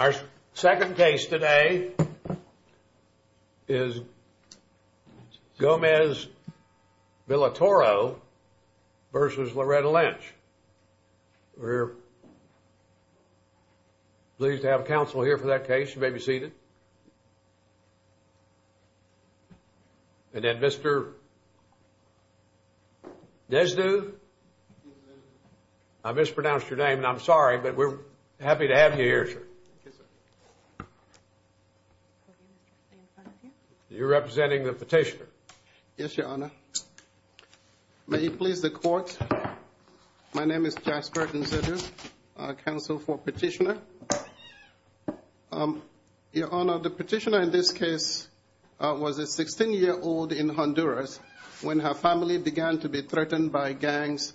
Our second case today is Gomez-Villatoro v. Loretta Lynch. We're pleased to have counsel here for that case. You may be seated. And then Mr. Desdoux, I mispronounced your name, and I'm sorry, but we're happy to have you here, sir. You're representing the petitioner. Yes, Your Honor. May it please the Court, my name is Jasper Desdoux, counsel for petitioner. Your Honor, the petitioner in this case was a 16-year-old in Honduras when her family began to be threatened by gangs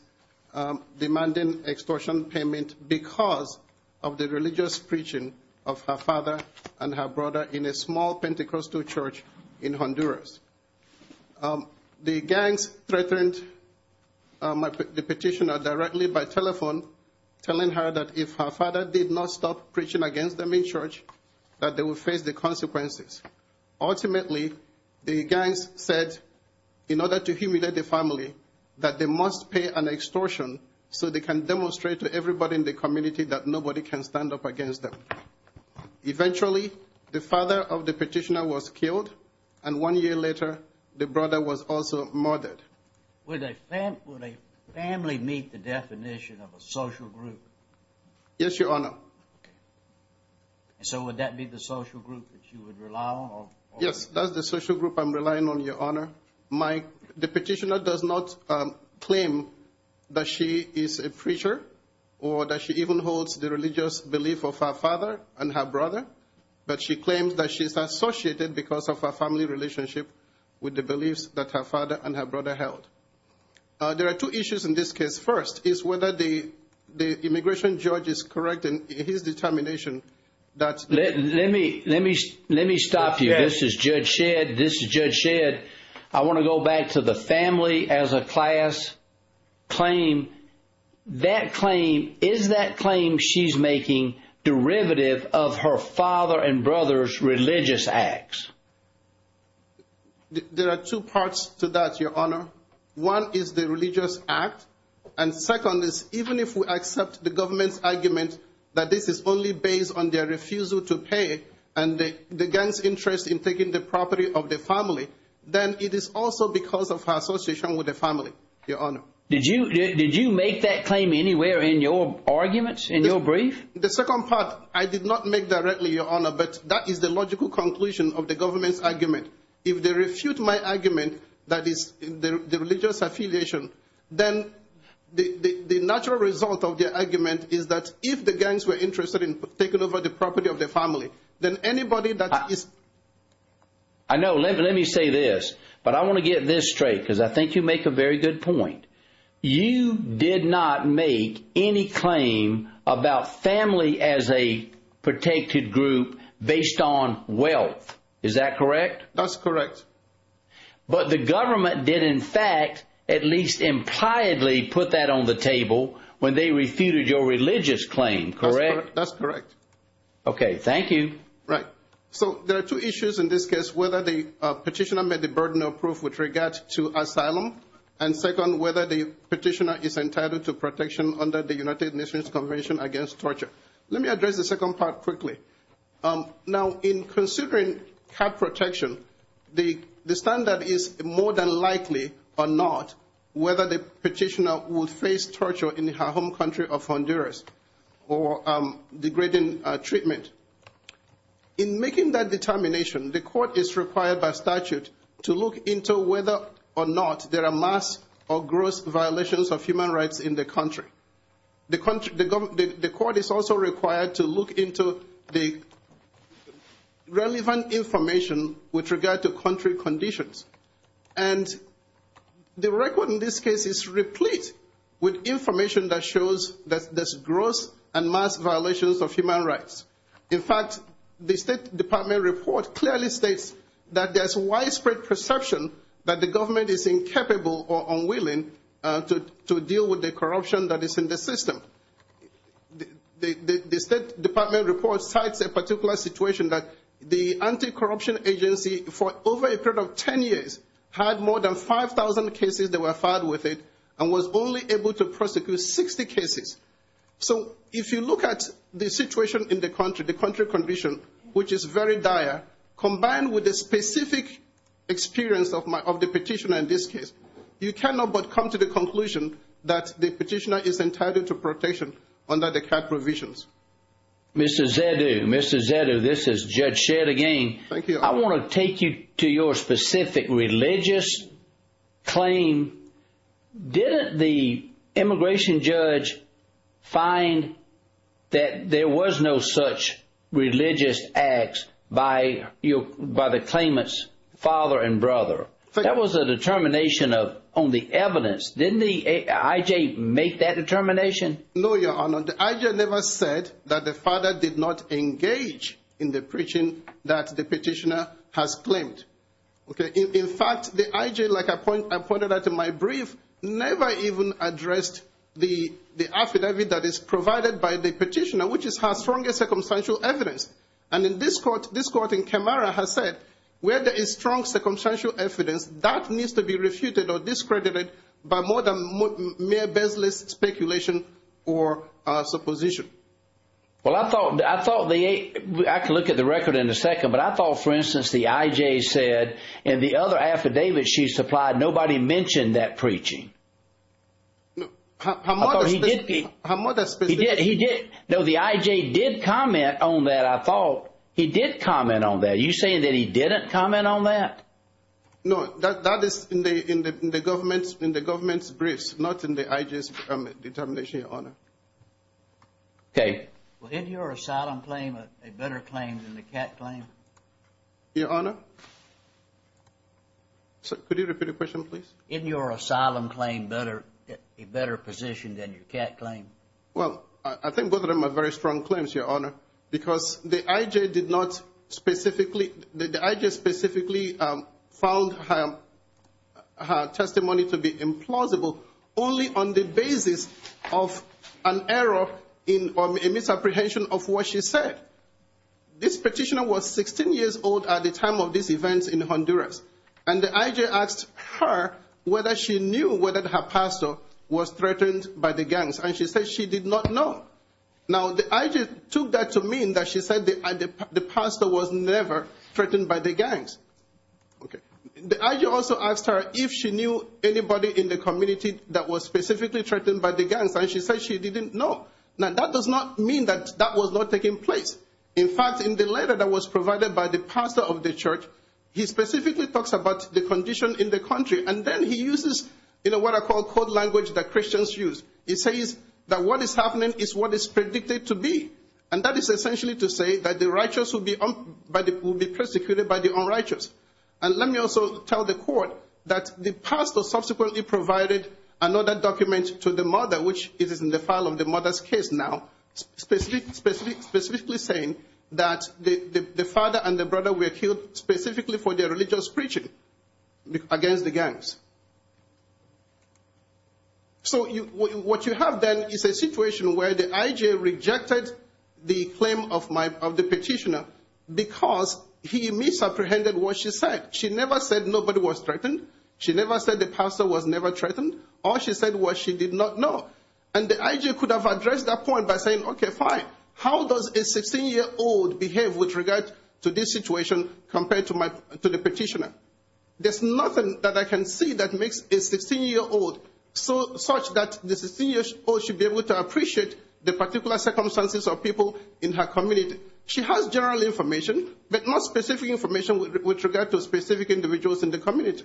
demanding extortion payment because of the religious preaching of her father and her brother in a small Pentecostal church in Honduras. The gangs threatened the petitioner directly by telephone, telling her that if her father did not stop preaching against them in church, that they would face the consequences. Ultimately, the gangs said, in order to humiliate the family, that they must pay an extortion so they can demonstrate to everybody in the community that nobody can stand up against them. Eventually, the father of the petitioner was killed, and one year later, the brother was also murdered. Would a family meet the definition of a social group? Yes, Your Honor. So would that be the social group that you would rely on? Yes, that's the social group I'm relying on, Your Honor. The petitioner does not claim that she is a preacher or that she even holds the religious belief of her father and her brother, but she claims that she's associated because of her family relationship with the beliefs that her father and her brother held. There are two issues in this case. First is whether the immigration judge is correct in his determination that... Let me stop you. This is Judge Shedd. This is Judge Shedd. I want to go back to the family as a class claim. Is that claim she's making derivative of her father and brother's religious acts? There are two parts to that, Your Honor. One is the religious act, and second is even if we accept the government's argument that this is only based on their refusal to pay and the gang's interest in taking the property of the family, then it is also because of her association with the family, Your Honor. Did you make that claim anywhere in your arguments, in your brief? The second part, I did not make directly, Your Honor, but that is the logical conclusion of the government's argument. If they refute my argument that is the religious affiliation, then the natural result of the argument is that if the gangs were interested in taking over the property of the family, then anybody that is... I know. Let me say this, but I want to get this straight because I think you make a very good point. You did not make any claim about family as a protected group based on wealth. Is that correct? That's correct. But the government did in fact at least impliedly put that on the table when they refuted your religious claim, correct? That's correct. Okay. Thank you. Right. So there are two issues in this case, whether the petitioner met the burden of proof with regard to asylum, and second, whether the petitioner is entitled to protection under the United Nations Convention Against Torture. Let me address the second part quickly. Now, in considering cap protection, the standard is more than likely or not whether the petitioner will face torture in her home country of Honduras or degrading treatment. In making that determination, the court is required by statute to look into whether or not there are mass or gross violations of human rights in the country. The court is also required to look into the relevant information with regard to country conditions. And the record in this case is replete with information that shows that there's gross and mass violations of human rights. In fact, the State Department report clearly states that there's widespread perception that the government is incapable or unwilling to deal with the corruption that is in the system. The State Department report cites a particular situation that the anti-corruption agency, for over a period of 10 years, had more than 5,000 cases that were filed with it and was only able to prosecute 60 cases. So if you look at the situation in the country, the country condition, which is very dire, combined with the specific experience of the petitioner in this case, you cannot but come to the conclusion that the petitioner is entitled to protection under the CAC provisions. Mr. Zedu, this is Judge Shedd again. I want to take you to your specific religious claim. Didn't the immigration judge find that there was no such religious acts by the claimant's brother? That was a determination on the evidence. Didn't the I.J. make that determination? No, Your Honor. The I.J. never said that the father did not engage in the preaching that the petitioner has claimed. In fact, the I.J., like I pointed out in my brief, never even addressed the affidavit that is provided by the petitioner, which is her strongest circumstantial evidence. That needs to be refuted or discredited by more than mere baseless speculation or supposition. I can look at the record in a second, but I thought, for instance, the I.J. said in the other affidavit she supplied, nobody mentioned that preaching. No, the I.J. did comment on that, I thought. He did comment on that. Are you saying that he didn't comment on that? No, that is in the government's briefs, not in the I.J.'s determination, Your Honor. Okay. Well, isn't your asylum claim a better claim than the cat claim? Your Honor? Could you repeat the question, please? Isn't your asylum claim a better position than your cat claim? Well, I think both of them are very strong claims, Your Honor, because the I.J. did not specifically, the I.J. specifically found her testimony to be implausible only on the basis of an error in or a misapprehension of what she said. This petitioner was 16 years old at the time of these events in Honduras, and the I.J. asked her whether she knew whether her pastor was threatened by the gangs, and she said she did not know. Now, the I.J. took that to mean that she said the pastor was never threatened by the gangs. The I.J. also asked her if she knew anybody in the community that was specifically threatened by the gangs, and she said she didn't know. Now, that does not mean that that was not taking place. In fact, in the letter that was provided by the pastor of the church, he specifically talks about the condition in the country, and then he uses, you know, what I call code language that Christians use. He says that what is happening is what is predicted to be, and that is essentially to say that the righteous will be persecuted by the unrighteous. And let me also tell the court that the pastor subsequently provided another document to the mother, which is in the file of the mother's case now, specifically saying that the father and the brother were killed specifically for the unrighteous. So what you have then is a situation where the I.J. rejected the claim of the petitioner because he misapprehended what she said. She never said nobody was threatened. She never said the pastor was never threatened. All she said was she did not know, and the I.J. could have addressed that point by saying, okay, fine, how does a 16-year-old behave with regard to this situation compared to the petitioner? There's nothing that I can see that makes a 16-year-old such that the 16-year-old should be able to appreciate the particular circumstances of people in her community. She has general information, but not specific information with regard to specific individuals in the community.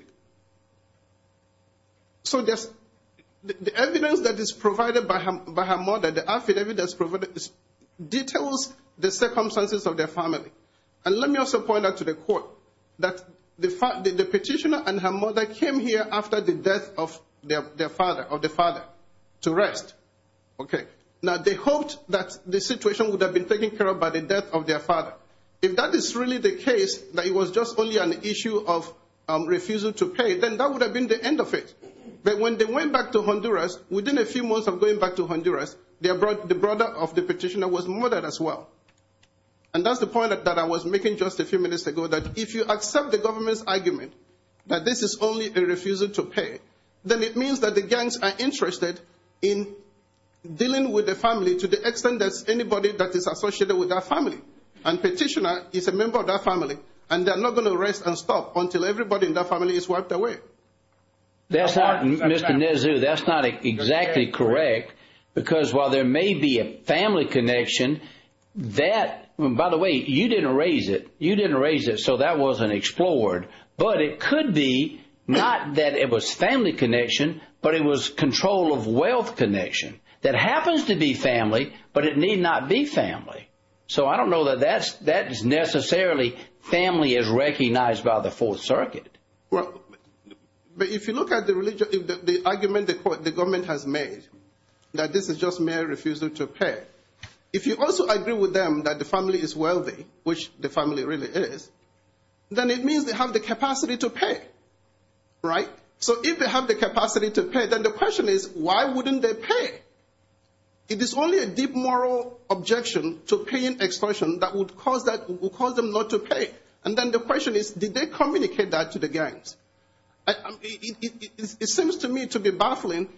So the evidence that is provided by her mother, the affidavit that's provided details the circumstances of their family. And let me also point out to the court that the petitioner and her mother came here after the death of their father, of the father, to rest. Now, they hoped that the situation would have been taken care of by the death of their father. If that is really the case, that it was just only an issue of refusal to pay, then that would have been the end of it. But when they went back to Honduras, the brother of the petitioner was murdered as well. And that's the point that I was making just a few minutes ago, that if you accept the government's argument that this is only a refusal to pay, then it means that the gangs are interested in dealing with the family to the extent that anybody that is associated with that family and petitioner is a member of that family, and they're not going to rest and stop until everybody in that family is wiped away. That's not, Mr. Nezu, that's not exactly correct. Because while there may be a family connection, that, by the way, you didn't raise it, you didn't raise it, so that wasn't explored. But it could be not that it was family connection, but it was control of wealth connection that happens to be family, but it need not be family. So I don't know that that's necessarily family as recognized by the Fourth Circuit. But if you look at the argument the government has made that this is just mere refusal to pay, if you also agree with them that the family is wealthy, which the family really is, then it means they have the capacity to pay, right? So if they have the capacity to pay, then the question is, why wouldn't they pay? It is only a deep moral objection to paying extortion that would cause them not to pay. And then the question is, did they communicate that to the gangs? It seems to me to be baffling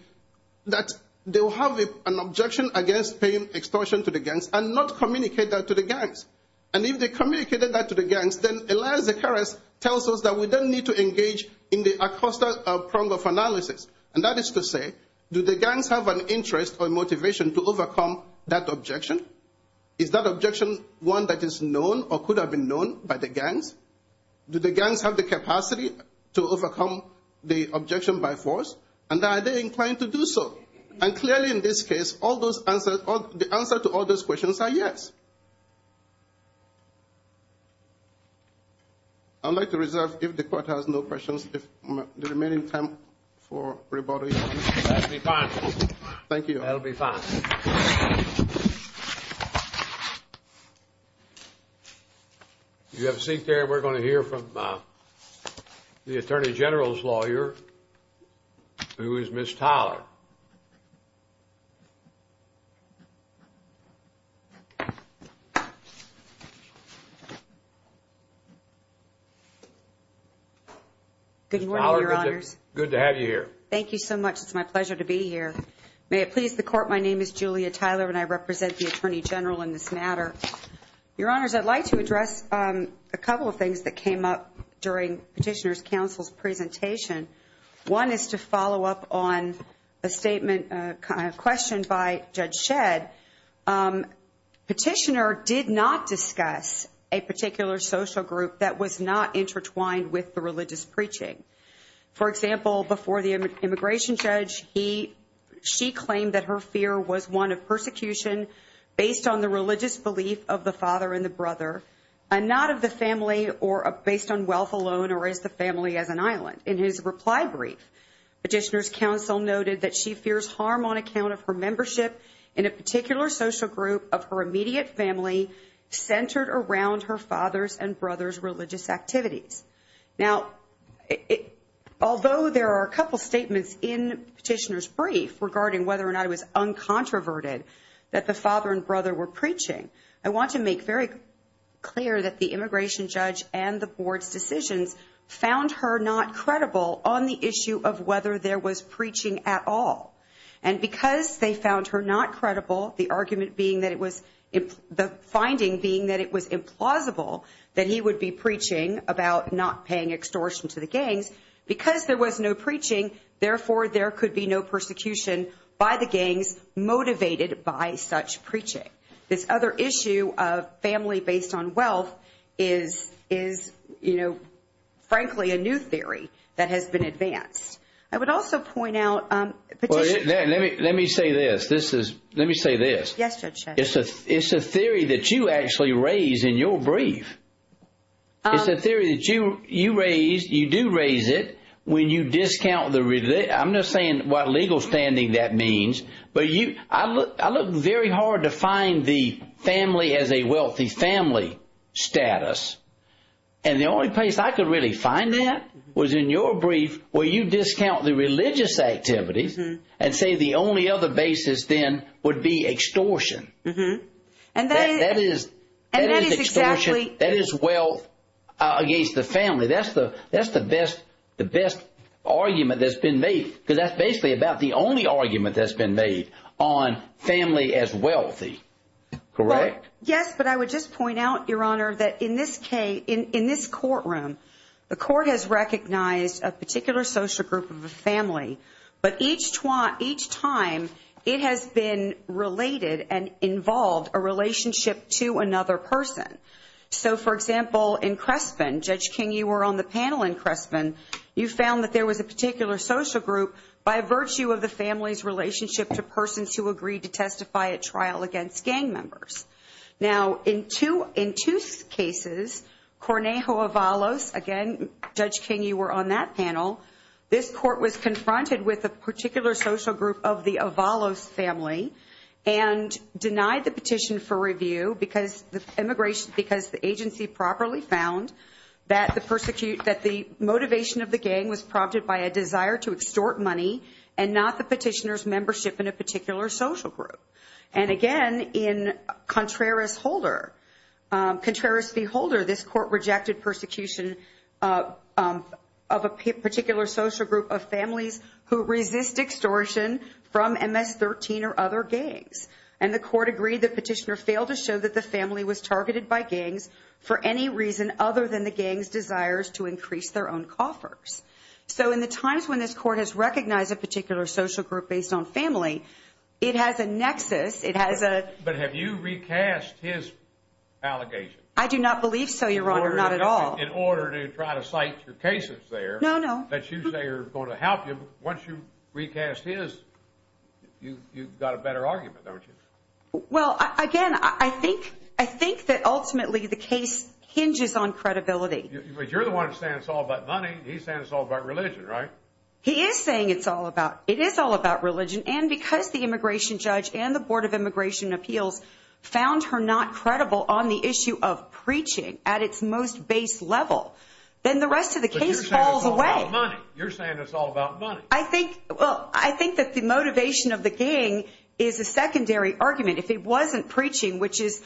that they will have an objection against paying extortion to the gangs and not communicate that to the gangs. And if they communicated that to the gangs, then Elias Zakarias tells us that we don't need to engage in the Acosta prong of analysis. And that is to say, do the gangs have an interest or motivation to overcome that objection? Is that objection one that is known or could have been known by the gangs? Do the gangs have the capacity to overcome the objection by force? And are they inclined to do so? And clearly in this case, the answer to all those questions are yes. I'd like to reserve, if the court has no questions, the remaining time for rebuttal. That'll be fine. Thank you. That'll be fine. You have a seat there. We're going to hear from the Attorney General's lawyer, who is Ms. Tyler. Good morning, Your Honors. Good to have you here. Thank you so much. It's my pleasure to be here. May it please the Court, my name is Julia Tyler and I represent the Attorney General in this matter. Your Honors, I'd like to address a couple of things that came up during Petitioner's Counsel's presentation. One is to follow up on a statement, a question by Judge Shedd. Petitioner did not discuss a particular social group that was not intertwined with the religious preaching. For example, before the immigration judge, she claimed that her fear was one of persecution based on the religious belief of the father and the brother and not of the family or based on wealth alone or as the family as an island. In his reply brief, Petitioner's Counsel noted that she fears harm on account of her membership in a particular social group of her own. Although there are a couple statements in Petitioner's brief regarding whether or not it was uncontroverted that the father and brother were preaching, I want to make very clear that the immigration judge and the board's decisions found her not credible on the issue of whether there was preaching at all. And because they found her not credible, the argument being that it was finding being that it was implausible that he would be preaching about not paying extortion to the gangs. Because there was no preaching, therefore, there could be no persecution by the gangs motivated by such preaching. This other issue of family based on wealth is, you know, frankly, a new theory that has been advanced. I would also point out Petitioner's... Let me say this. Let me say this. Yes, Judge Shedd. It's a theory that you actually raise in your brief. It's a theory that you do raise it when you discount the... I'm not saying what legal standing that means, but I look very hard to find the family as a wealthy family status. And the only place I could really find that was in your brief where you discount the religious activities and say the only other basis then would be extortion. That is extortion. That is wealth against the family. That's the best argument that's been made, because that's basically about the only argument that's been made on family as wealthy. Correct? Yes, but I would just point out, Your Honor, that in this courtroom, the court has recognized a involved a relationship to another person. So, for example, in Crespen, Judge King, you were on the panel in Crespen. You found that there was a particular social group by virtue of the family's relationship to persons who agreed to testify at trial against gang members. Now, in two cases, Cornejo Avalos, again, Judge King, you were on that panel. This court was confronted with a particular social group of the Avalos family, and denied the petition for review because the agency properly found that the motivation of the gang was prompted by a desire to extort money and not the petitioner's membership in a particular social group. And again, in Contreras v. Holder, this court rejected persecution of a particular social group of families who resist extortion from MS-13 or other gangs. And the court agreed the petitioner failed to show that the family was targeted by gangs for any reason other than the gang's desires to increase their own coffers. So, in the times when this court has recognized a particular social group based on family, it has a nexus. It has a... But have you recast his allegation? I do not believe so, Your Honor. Not at all. In order to try to cite your cases there... No, no. ...that you say are going to help you. But once you recast his, you've got a better argument, don't you? Well, again, I think that ultimately the case hinges on credibility. But you're the one saying it's all about money. He's saying it's all about religion, right? He is saying it's all about... It is all about religion. And because the immigration judge and the Board of Immigration and Appeals found her not credible on the issue of preaching at its most base level, then the rest of the case falls away. But you're saying it's all about money. You're saying it's all about money. I think... Well, I think that the motivation of the gang is a secondary argument. If it wasn't preaching, which is,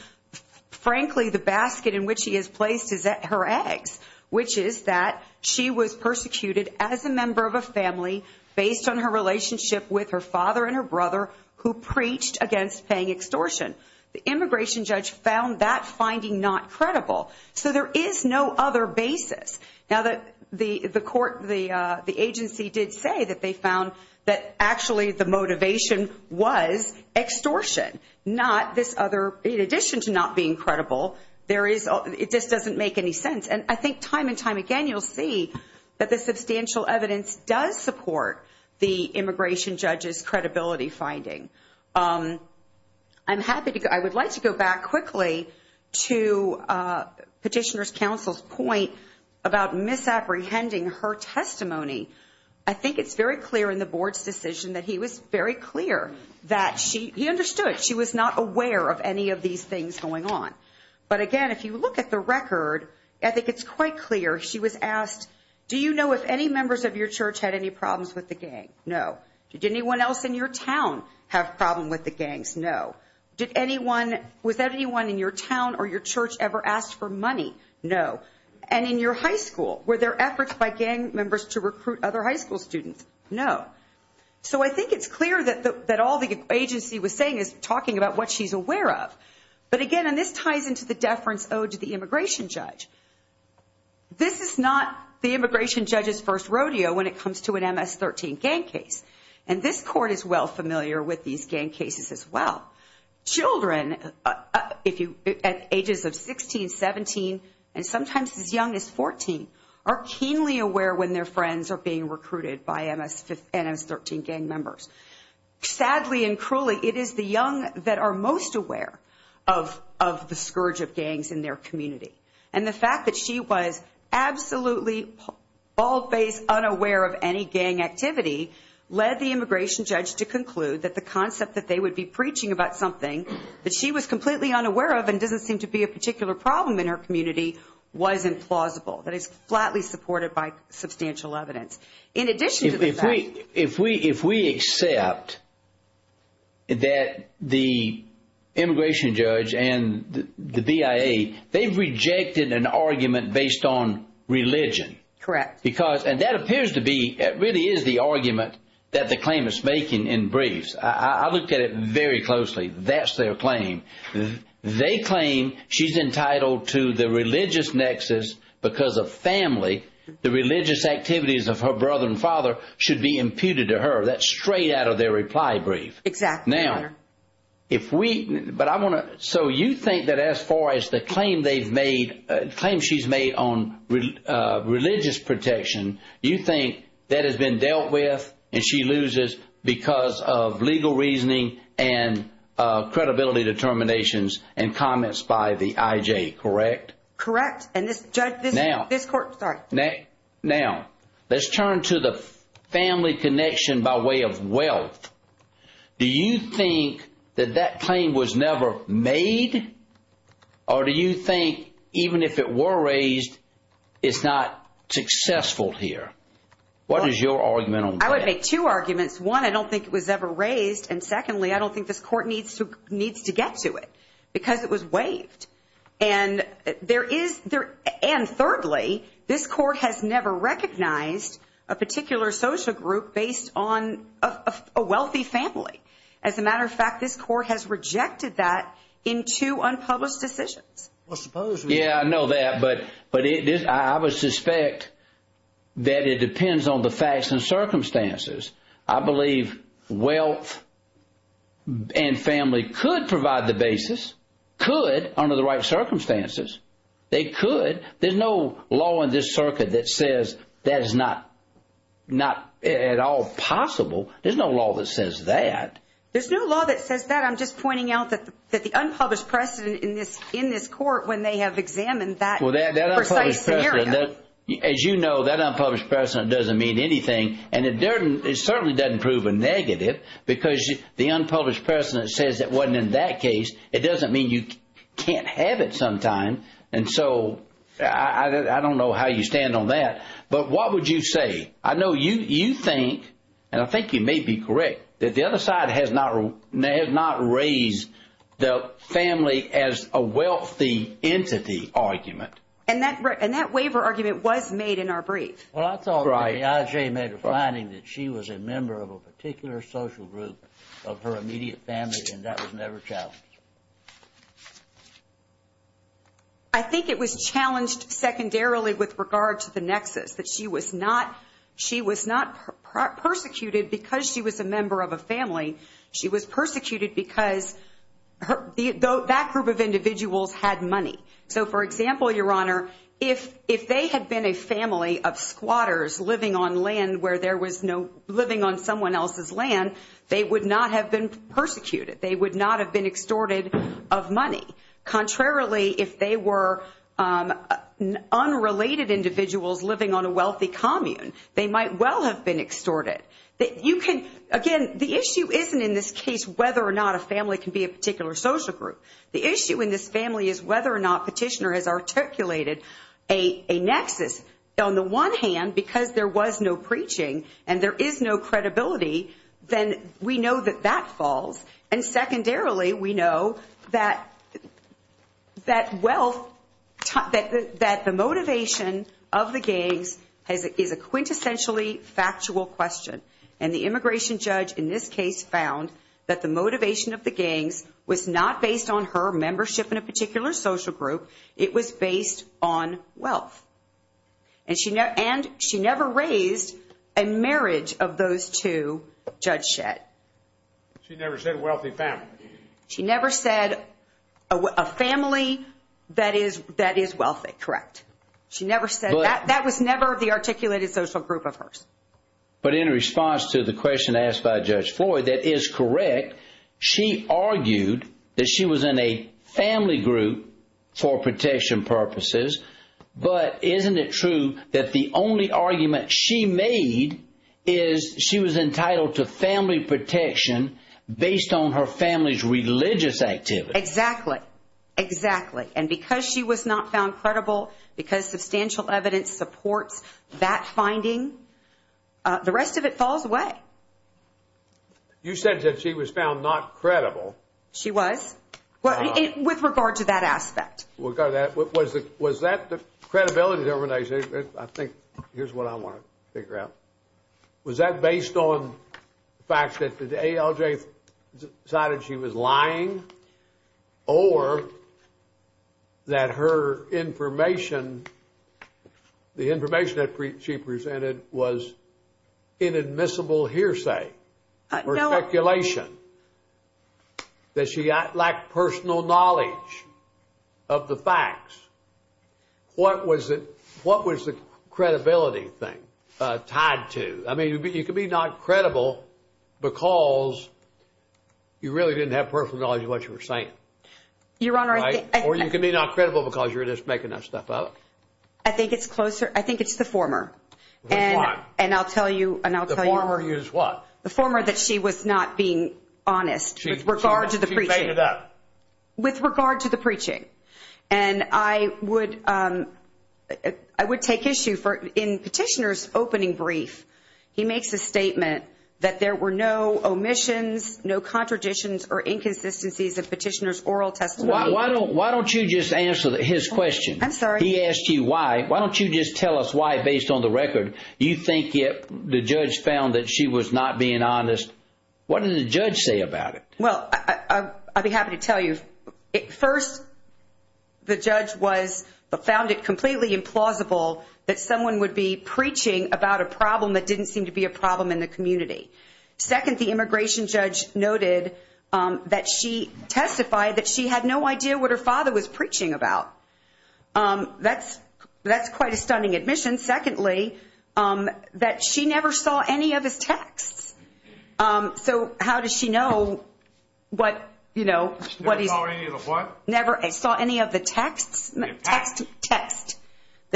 frankly, the basket in which he has placed his... her eggs, which is that she was persecuted as a member of a family based on her relationship with her father and her brother who preached against paying extortion, the immigration judge found that finding not credible. So there is no other basis. Now that the court, the agency did say that they found that actually the motivation was extortion, not this other... In addition to not being credible, there is... It just doesn't make any sense. And I think time and time again, you'll see that the substantial evidence does support the immigration judge's credibility finding. I'm happy to... I would like to go back quickly to Petitioner's counsel's point about misapprehending her testimony. I think it's very clear in the board's decision that he was very clear that she... He understood. She was not aware of any of these things going on. But again, if you look at the record, I think it's quite clear she was asked, do you know if any members of your church had any problems with the gang? No. Did anyone else in your town have a problem with the gangs? No. Did anyone... Was anyone in your town or your church ever asked for money? No. And in your high school, were there efforts by gang members to recruit other high school students? No. So I think it's clear that all the agency was saying is talking about what she's aware of. But again, and this ties into the deference owed to the immigration judge. This is not the immigration judge's first rodeo when it comes to an MS-13 gang case. And this court is well familiar with these gang cases as well. Children at ages of 16, 17, and sometimes as young as 14 are keenly aware when their friends are being recruited by MS-13 gang members. Sadly and cruelly, it is the young that are most aware of the scourge of gangs in their community. And the fact that she was absolutely bald-faced, unaware of any gang activity led the immigration judge to conclude that the concept that they would be preaching about something that she was completely unaware of and doesn't seem to be a particular problem in her community was implausible. That is flatly supported by substantial evidence. In addition to that... If we accept that the immigration judge and the BIA, they've rejected an argument based on religion. Correct. Because, and that appears to be, it really is the argument that the claimant's making in briefs. I looked at it very closely. That's their claim. They claim she's entitled to the religious nexus because of family. The religious activities of her brother and father should be imputed to her. That's straight out of their reply brief. Exactly. Now, if we, but I want to, so you think that as far as the claim they've made, the claim she's made on religious protection, you think that has been dealt with and she loses because of legal reasoning and comments by the IJ, correct? Correct. And this court, sorry. Now, let's turn to the family connection by way of wealth. Do you think that that claim was never made? Or do you think even if it were raised, it's not successful here? What is your argument on that? I would make two arguments. One, I don't think it was ever raised. And secondly, I don't think this court needs to get to it because it was waived. And thirdly, this court has never recognized a particular social group based on a wealthy family. As a matter of fact, this court has rejected that in two unpublished decisions. Yeah, I know that, but I would suspect that it depends on the facts and circumstances. I believe wealth and family could provide the basis, could under the right circumstances. They could. There's no law in this circuit that says that is not at all possible. There's no law that says that. There's no law that says that. I'm just pointing out that the unpublished precedent in this court when they have examined that precise scenario. As you know, that certainly doesn't prove a negative because the unpublished precedent says it wasn't in that case. It doesn't mean you can't have it sometime. And so I don't know how you stand on that. But what would you say? I know you think, and I think you may be correct, that the other side has not raised the family as a wealthy entity argument. And that waiver argument was made in our brief. Well, I thought the IJ made a finding that she was a member of a particular social group of her immediate family, and that was never challenged. I think it was challenged secondarily with regard to the nexus, that she was not persecuted because she was a member of a family. She was persecuted because that group of individuals had money. So for example, Your Honor, if they had been a family of squatters living on land where there was no living on someone else's land, they would not have been persecuted. They would not have been extorted of money. Contrarily, if they were unrelated individuals living on a wealthy commune, they might well have been extorted. Again, the issue isn't in this case whether or not a family can be a particular social group. The issue in this family is whether or not petitioner has articulated a nexus. On the one hand, because there was no preaching and there is no credibility, then we know that that falls. And secondarily, we know that the motivation of the gangs is a quintessentially factual question. And the immigration judge in this case found that the motivation of the gangs was not based on her membership in a particular social group. It was based on wealth. And she never raised a marriage of those two, Judge Shedd. She never said wealthy family. She never said a family that is wealthy, correct. She never said that. That was never the articulated social group of hers. But in response to the question of whether or not she was a family member, and I'm sorry, that is correct. She argued that she was in a family group for protection purposes. But isn't it true that the only argument she made is she was entitled to family protection based on her family's religious activities? Exactly. Exactly. And because she was not found credible, because substantial evidence supports that finding, the rest of it falls away. You said that she was found not credible. She was. With regard to that aspect. Was that the credibility determination? I think here's what I want to figure out. Was that based on the fact that the ALJ decided she was lying or that her information, the information that she presented was inadmissible hearsay or speculation that she lacked personal knowledge of the facts? What was the credibility thing tied to? I mean, you could be not credible because you really didn't have personal knowledge of what you're saying. Your Honor. Or you can be not credible because you're just making that stuff up. I think it's closer. I think it's the former. Which one? And I'll tell you. The former is what? The former that she was not being honest with regard to the preaching. She made it up. With regard to the preaching. And I would take issue for, in Petitioner's opening brief, he makes a statement that there were no omissions, no contradictions or inconsistencies of Petitioner's oral testimony. Why don't you just answer his question? I'm sorry. He asked you why. Why don't you just tell us why, based on the record? You think the judge found that she was not being honest. What did the judge say about it? Well, I'll be happy to tell you. First, the judge found it completely implausible that someone would be preaching about a problem that didn't seem to be a problem in the community. Second, the immigration judge noted that she testified that she had no idea what her father was preaching about. That's quite a stunning admission. Secondly, that she never saw any of his texts. So how does she know what, you know, never saw any of the what? Never saw any of the texts, the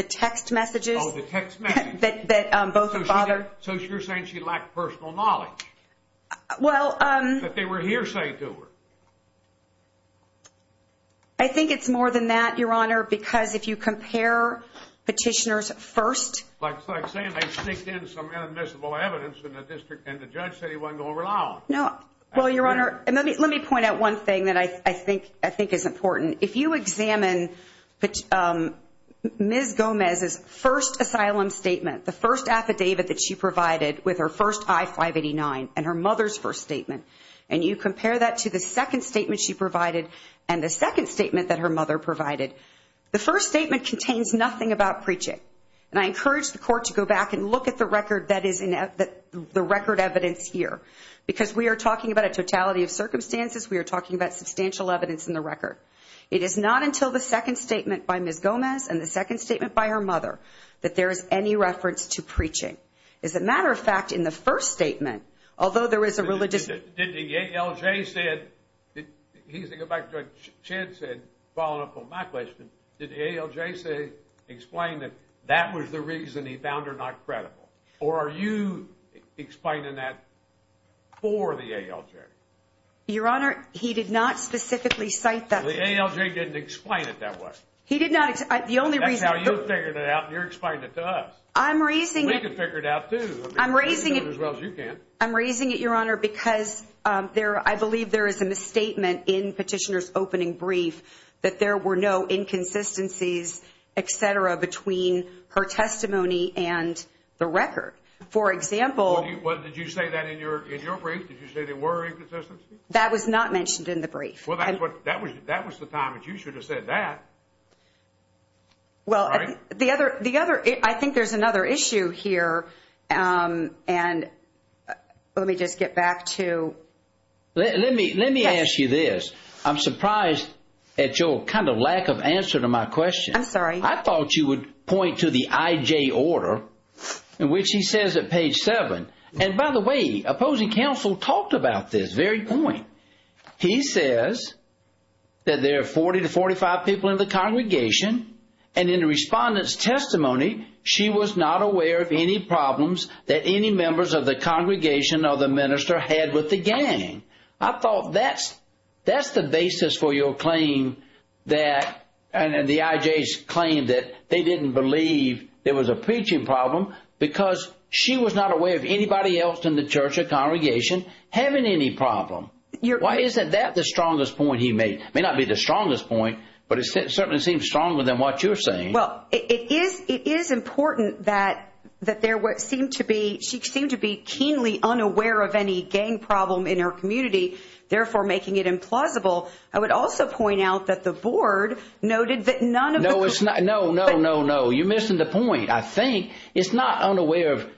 text messages that both her father. So you're saying she lacked personal knowledge that they were hearsay to her. I think it's more than that, Your Honor, because if you compare Petitioner's first. Like I'm saying, they snaked in some inadmissible evidence in the district and the judge said he wasn't going to I think is important. If you examine Ms. Gomez's first asylum statement, the first affidavit that she provided with her first I-589 and her mother's first statement, and you compare that to the second statement she provided and the second statement that her mother provided, the first statement contains nothing about preaching. And I encourage the court to go back and look at the record that is in the record evidence here, because we are talking about a totality of evidence in the record. It is not until the second statement by Ms. Gomez and the second statement by her mother that there is any reference to preaching. As a matter of fact, in the first statement, although there is a religious. Did the ALJ said he's to go back to chance and follow up on my question. Did the ALJ say explain that that was the reason he found her credible? Or are you explaining that for the ALJ? Your Honor, he did not specifically cite that. The ALJ didn't explain it that way. He did not. The only reason how you figured it out, you're explaining it to us. I'm raising. We can figure it out, too. I'm raising it as well as you can. I'm raising it, Your Honor, because there I believe there is a misstatement in petitioners opening brief that there were no inconsistencies, et cetera, between her testimony and the record. For example, what did you say that in your in your brief? Did you say they were inconsistent? That was not mentioned in the brief. Well, that's what that was. That was the time that you should have said that. Well, the other the other I think there's another issue here, and let me just get back to. Let me let me ask you this. I'm surprised at your kind of lack of answer to my question. I'm sorry. I thought you would point to the IJ order in which he says at page seven. And by the way, opposing counsel talked about this very point. He says that there are 40 to 45 people in the congregation and in the respondent's testimony, she was not aware of any problems that any members of the congregation or the minister had with the gang. I thought that's that's the basis for your claim that and the IJ's claim that they didn't believe there was a preaching problem because she was not aware of anybody else in the church or congregation having any problem. Why isn't that the strongest point he made? May not be the strongest point, but it certainly seems stronger than what you're saying. Well, it is. It is important that that there seemed to be she seemed to be keenly unaware of any gang problem in her community, therefore making it implausible. I would also point out that the board noted that none. No, it's not. No, no, no, no. You're missing the point. I think it's not unaware of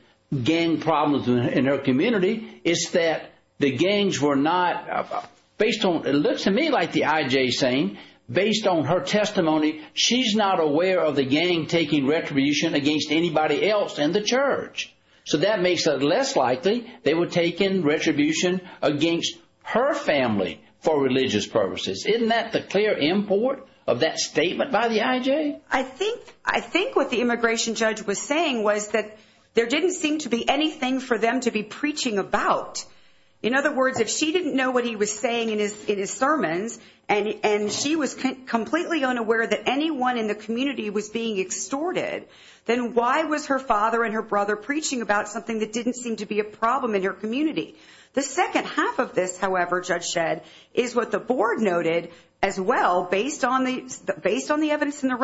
gang problems in her community. It's that the gangs were not based on it looks to me like the saying based on her testimony, she's not aware of the gang taking retribution against anybody else in the church. So that makes it less likely they would take in retribution against her family for religious purposes. Isn't that the clear import of that statement by the IJ? I think I think what the immigration judge was saying was that there didn't seem to be anything for them to be preaching about. In other words, if she didn't know what he was saying in his sermons and she was completely unaware that anyone in the community was being extorted, then why was her father and her brother preaching about something that didn't seem to be a problem in your community? The second half of this, however, judge said, is what the board noted as well, based on the based on the evidence in the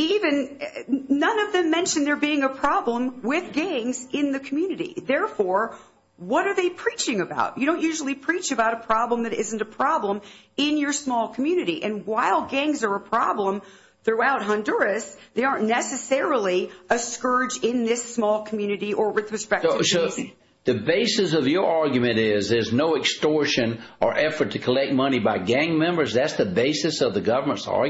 even none of them mentioned there being a problem with gangs in the community. Therefore, what are they preaching about? You don't usually preach about a problem that isn't a problem in your small community. And while gangs are a problem throughout Honduras, they aren't necessarily a scourge in this small community or with respect to the basis of your argument is there's no extortion or effort to collect money by gang members. That's the basis of the government's no,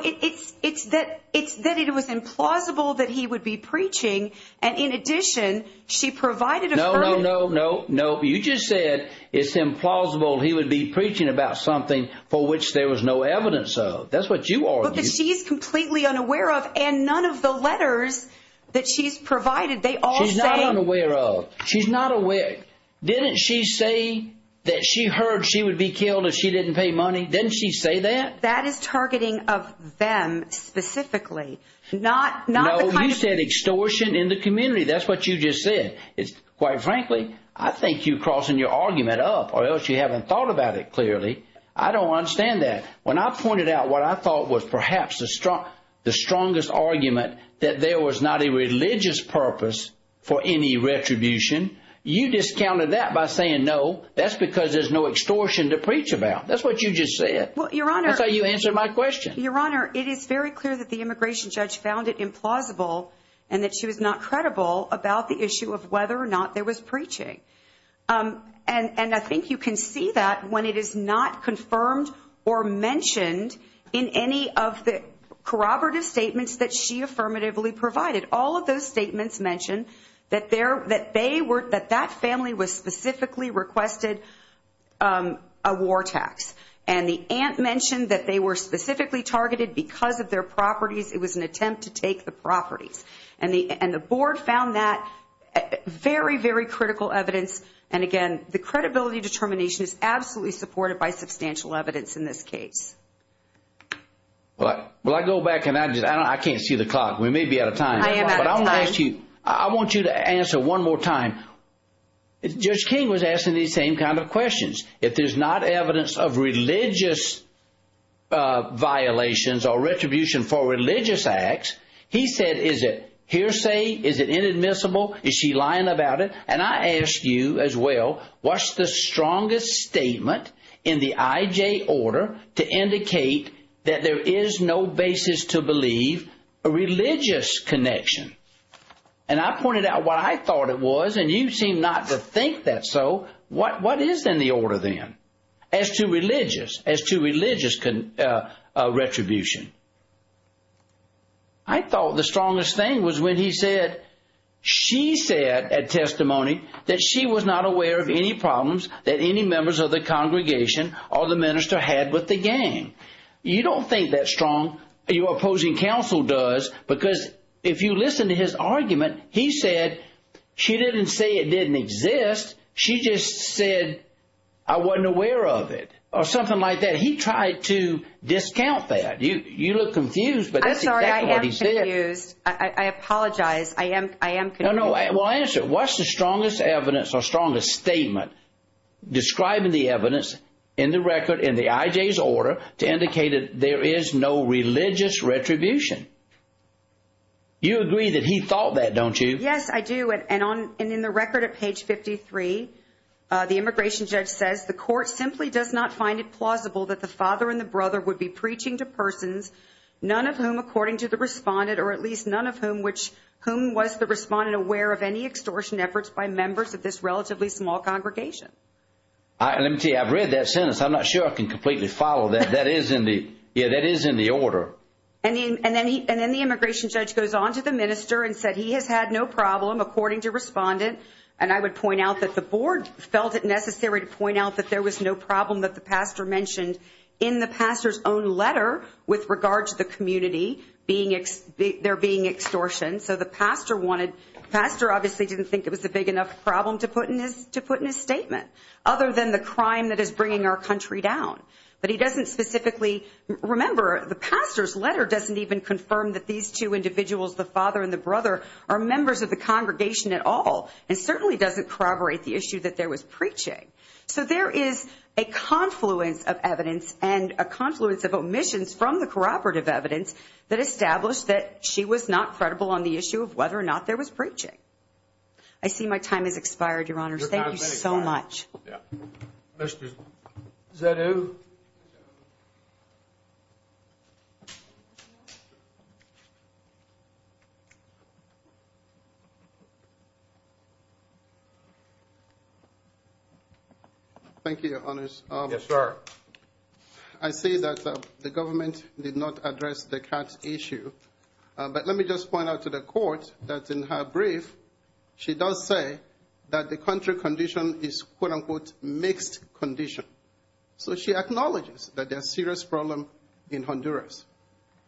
it's it's that it's that it was implausible that he would be preaching. And in addition, she provided a no, no, no, no, no. You just said it's implausible. He would be preaching about something for which there was no evidence. So that's what you are. She's completely unaware of. And none of the letters that she's provided. They all say I'm aware of. She's not aware. Didn't she say that she heard she would be killed if she didn't pay money? Didn't she say that that is targeting of them specifically? Not not. You said extortion in the community. That's what you just said. It's quite frankly, I think you crossing your argument up or else you haven't thought about it clearly. I don't understand that. When I pointed out what I thought was perhaps the strongest argument that there was not a religious purpose for any retribution, you discounted that by saying, no, that's because there's no extortion to preach about. That's what you just said. Well, Your Honor, that's how you answer my question. Your Honor, it is very clear that the immigration judge found it implausible and that she was not credible about the issue of whether or not there was preaching. And I think you can see that when it is not confirmed or mentioned in any of the corroborative statements that she affirmatively provided. All of those statements mention that there that they were that that family was and the ant mentioned that they were specifically targeted because of their properties. It was an attempt to take the properties and the and the board found that very, very critical evidence. And again, the credibility determination is absolutely supported by substantial evidence in this case. But I go back and I just I can't see the clock. We may be out of time. I want you to answer one more time. Judge King was asking the same kind of questions. If there's not evidence of religious violations or retribution for religious acts, he said, is it hearsay? Is it inadmissible? Is she lying about it? And I ask you as well, what's the strongest statement in the IJ order to indicate that there is no basis to believe a religious connection? And I pointed out what I thought it was. And you seem not to think that. So what is in the order then as to religious as to religious retribution? I thought the strongest thing was when he said she said at testimony that she was not aware of any problems that any members of the congregation or the minister had with the gang. You don't think that strong your opposing counsel does, because if you listen to his argument, he said she didn't say it didn't exist. She just said I wasn't aware of it or something like that. He tried to discount that. You look confused, but that's not what he said. I apologize. I am. I am. No, I will answer. What's the strongest evidence or strongest statement describing the evidence in the record in the IJ's order to indicate that there is no religious retribution? You agree that he thought that, don't you? Yes, I do. And on and in the record at page 53, the immigration judge says the court simply does not find it plausible that the father and the brother would be preaching to persons, none of whom, according to the respondent, or at least none of whom which whom was the respondent aware of any extortion efforts by members of this relatively small congregation? I have read that sentence. I'm not sure I can completely follow that. That is in the it is in the order. And then and then the immigration judge goes on to the minister and said he has had no problem, according to respondent. And I would point out that the board felt it necessary to point out that there was no problem that the pastor mentioned in the pastor's own letter with regard to the community being there being extortion. So the pastor wanted pastor obviously didn't think it was a big enough problem to put in his to put in his statement other than the crime that is bringing our country down. But he doesn't specifically remember the pastor's letter doesn't even confirm that these two individuals, the father and the brother, are members of the congregation at all and certainly doesn't corroborate the issue that there was preaching. So there is a confluence of evidence and a confluence of omissions from the corroborative evidence that established that she was not credible on the issue of whether or not there was preaching. I see my time has expired, Your Honor. Thank you so much. Yeah, Mr. Zedu. Thank you, Your Honors. Yes, sir. I see that the government did not address the cat issue. But let me just point out to the court that in her brief, she does say that the country condition is, quote unquote, mixed condition. So she acknowledges that there's a serious problem in Honduras.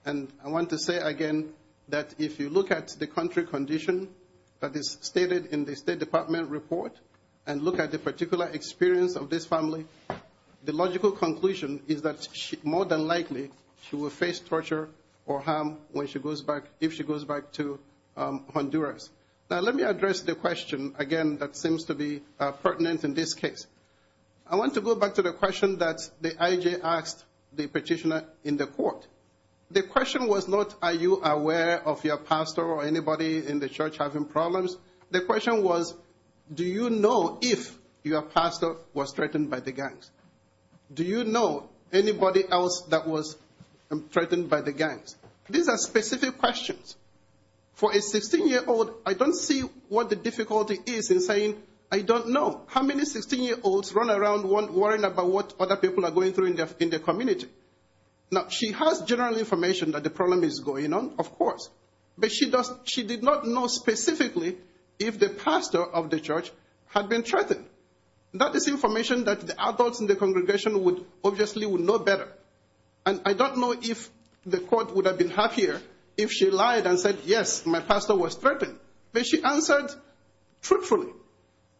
And I want to say again, that if you look at the country condition that is stated in the State Department report, and look at the particular experience of this family, the logical conclusion is that more than likely, she will face torture or harm when she goes back, if she goes back to Honduras. Now, let me address the question, again, that seems to be pertinent in this case. I want to go back to the question that the IJ asked the petitioner in the court. The question was not, are you aware of your pastor or anybody in the church having problems? The question was, do you know if your pastor was threatened by the gangs? Do you know anybody else that was threatened by the gangs? These are specific questions. For a 16-year-old, I don't see what the difficulty is in saying, I don't know. How many 16-year-olds run around worrying about what other people are going through in their community? Now, she has general information that the problem is going on, of course, but she did not know specifically if the pastor of the church had been threatened. That is information that the adults in the congregation obviously would know better. I don't know if the court would have been happier if she lied and said, yes, my pastor was threatened, but she answered truthfully.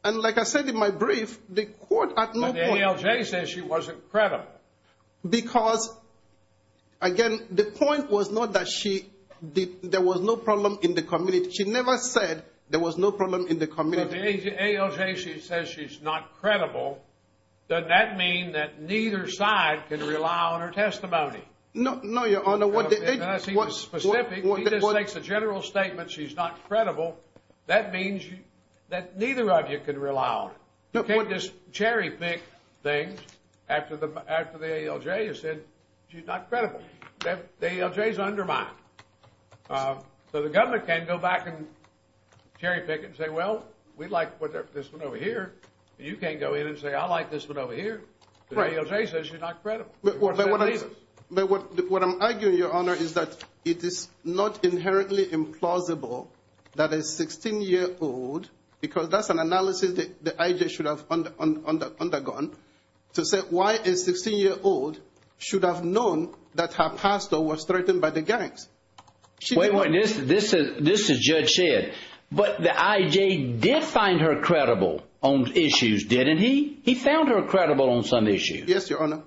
Like I said in my brief, the court at no point... But the ALJ says she wasn't credible. Because, again, the point was not that there was no problem in the community. She never said there was no problem in the community. But the ALJ, she says she's not credible. Does that mean that neither side can rely on her testimony? No, no, Your Honor. He just makes a general statement, she's not credible. That means that neither of you can rely on her. You can't just cherry pick things after the ALJ has said she's not credible. The ALJ is undermined. So the government can't go back and cherry pick and say, well, we'd like to put this one over here. You can't go in and say, I like this one over here. The ALJ says she's not credible. But what I'm arguing, Your Honor, is that it is not because that's an analysis that the ALJ should have undergone to say why a 16-year-old should have known that her pastor was threatened by the gangs. Wait a minute, this is judge said, but the ALJ did find her credible on issues, didn't he? He found her credible on some issues. Yes, Your Honor.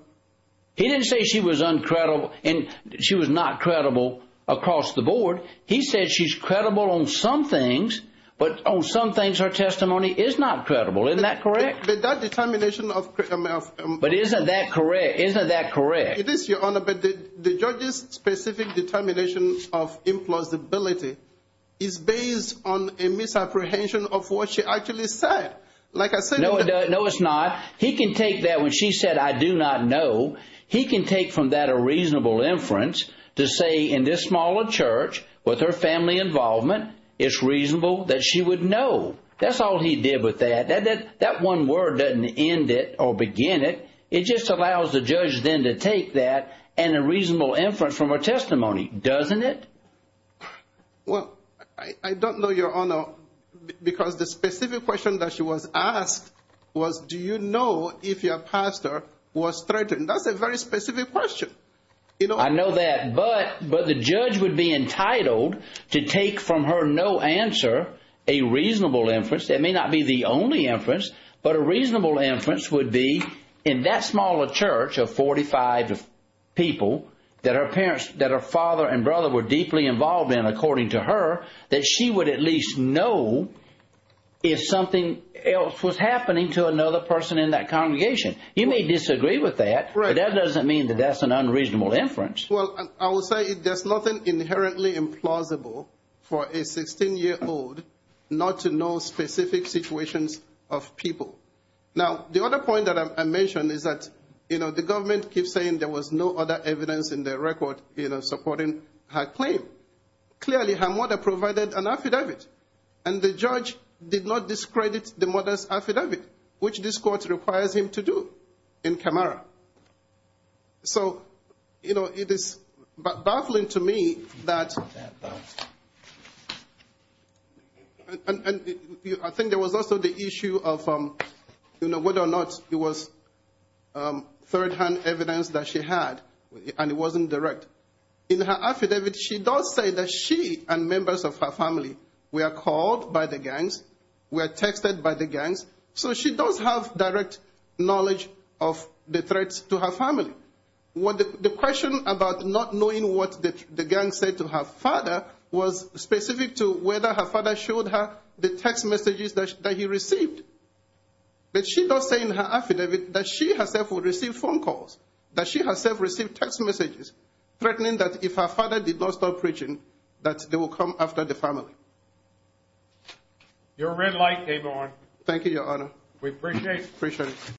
He didn't say she was uncredible and she was not credible across the board. He said she's credible on some things, but on some things, her testimony is not credible. Isn't that correct? But that determination of... But isn't that correct? Isn't that correct? It is, Your Honor, but the judge's specific determination of implausibility is based on a misapprehension of what she actually said. Like I said... No, it's not. He can take that when she said, I do not know. He can take from that a reasonable inference to say in this small church with her family involvement, it's reasonable that she would know. That's all he did with that. That one word doesn't end it or begin it. It just allows the judge then to take that and a reasonable inference from her testimony, doesn't it? Well, I don't know, Your Honor, because the specific question that she was asked was, do you know if your pastor was threatened? That's a very specific question. I know that, but the judge would be entitled to take from her no answer a reasonable inference. That may not be the only inference, but a reasonable inference would be in that smaller church of 45 people that her parents, that her father and brother were deeply involved in, according to her, that she would at least know if something else was happening to another person in congregation. You may disagree with that, but that doesn't mean that that's an unreasonable inference. Well, I will say there's nothing inherently implausible for a 16-year-old not to know specific situations of people. Now, the other point that I mentioned is that the government keeps saying there was no other evidence in their record supporting her claim. Clearly, her mother provided an affidavit, and the judge did not discredit the mother's affidavit, which this court requires him to do in Camara. So, you know, it is baffling to me that... I think there was also the issue of, you know, whether or not it was third-hand evidence that she had, and it wasn't direct. In her affidavit, she does say that she and members of her family were called by the gangs, were texted by the gangs, so she does have direct knowledge of the threats to her family. The question about not knowing what the gangs said to her father was specific to whether her father showed her the text messages that he received. But she does say in her affidavit that she herself would receive phone calls, that she herself received text messages threatening that if her father did not stop preaching, that they will come after the family. Your red light, Yvonne. Thank you, Your Honor. We appreciate it. Appreciate it.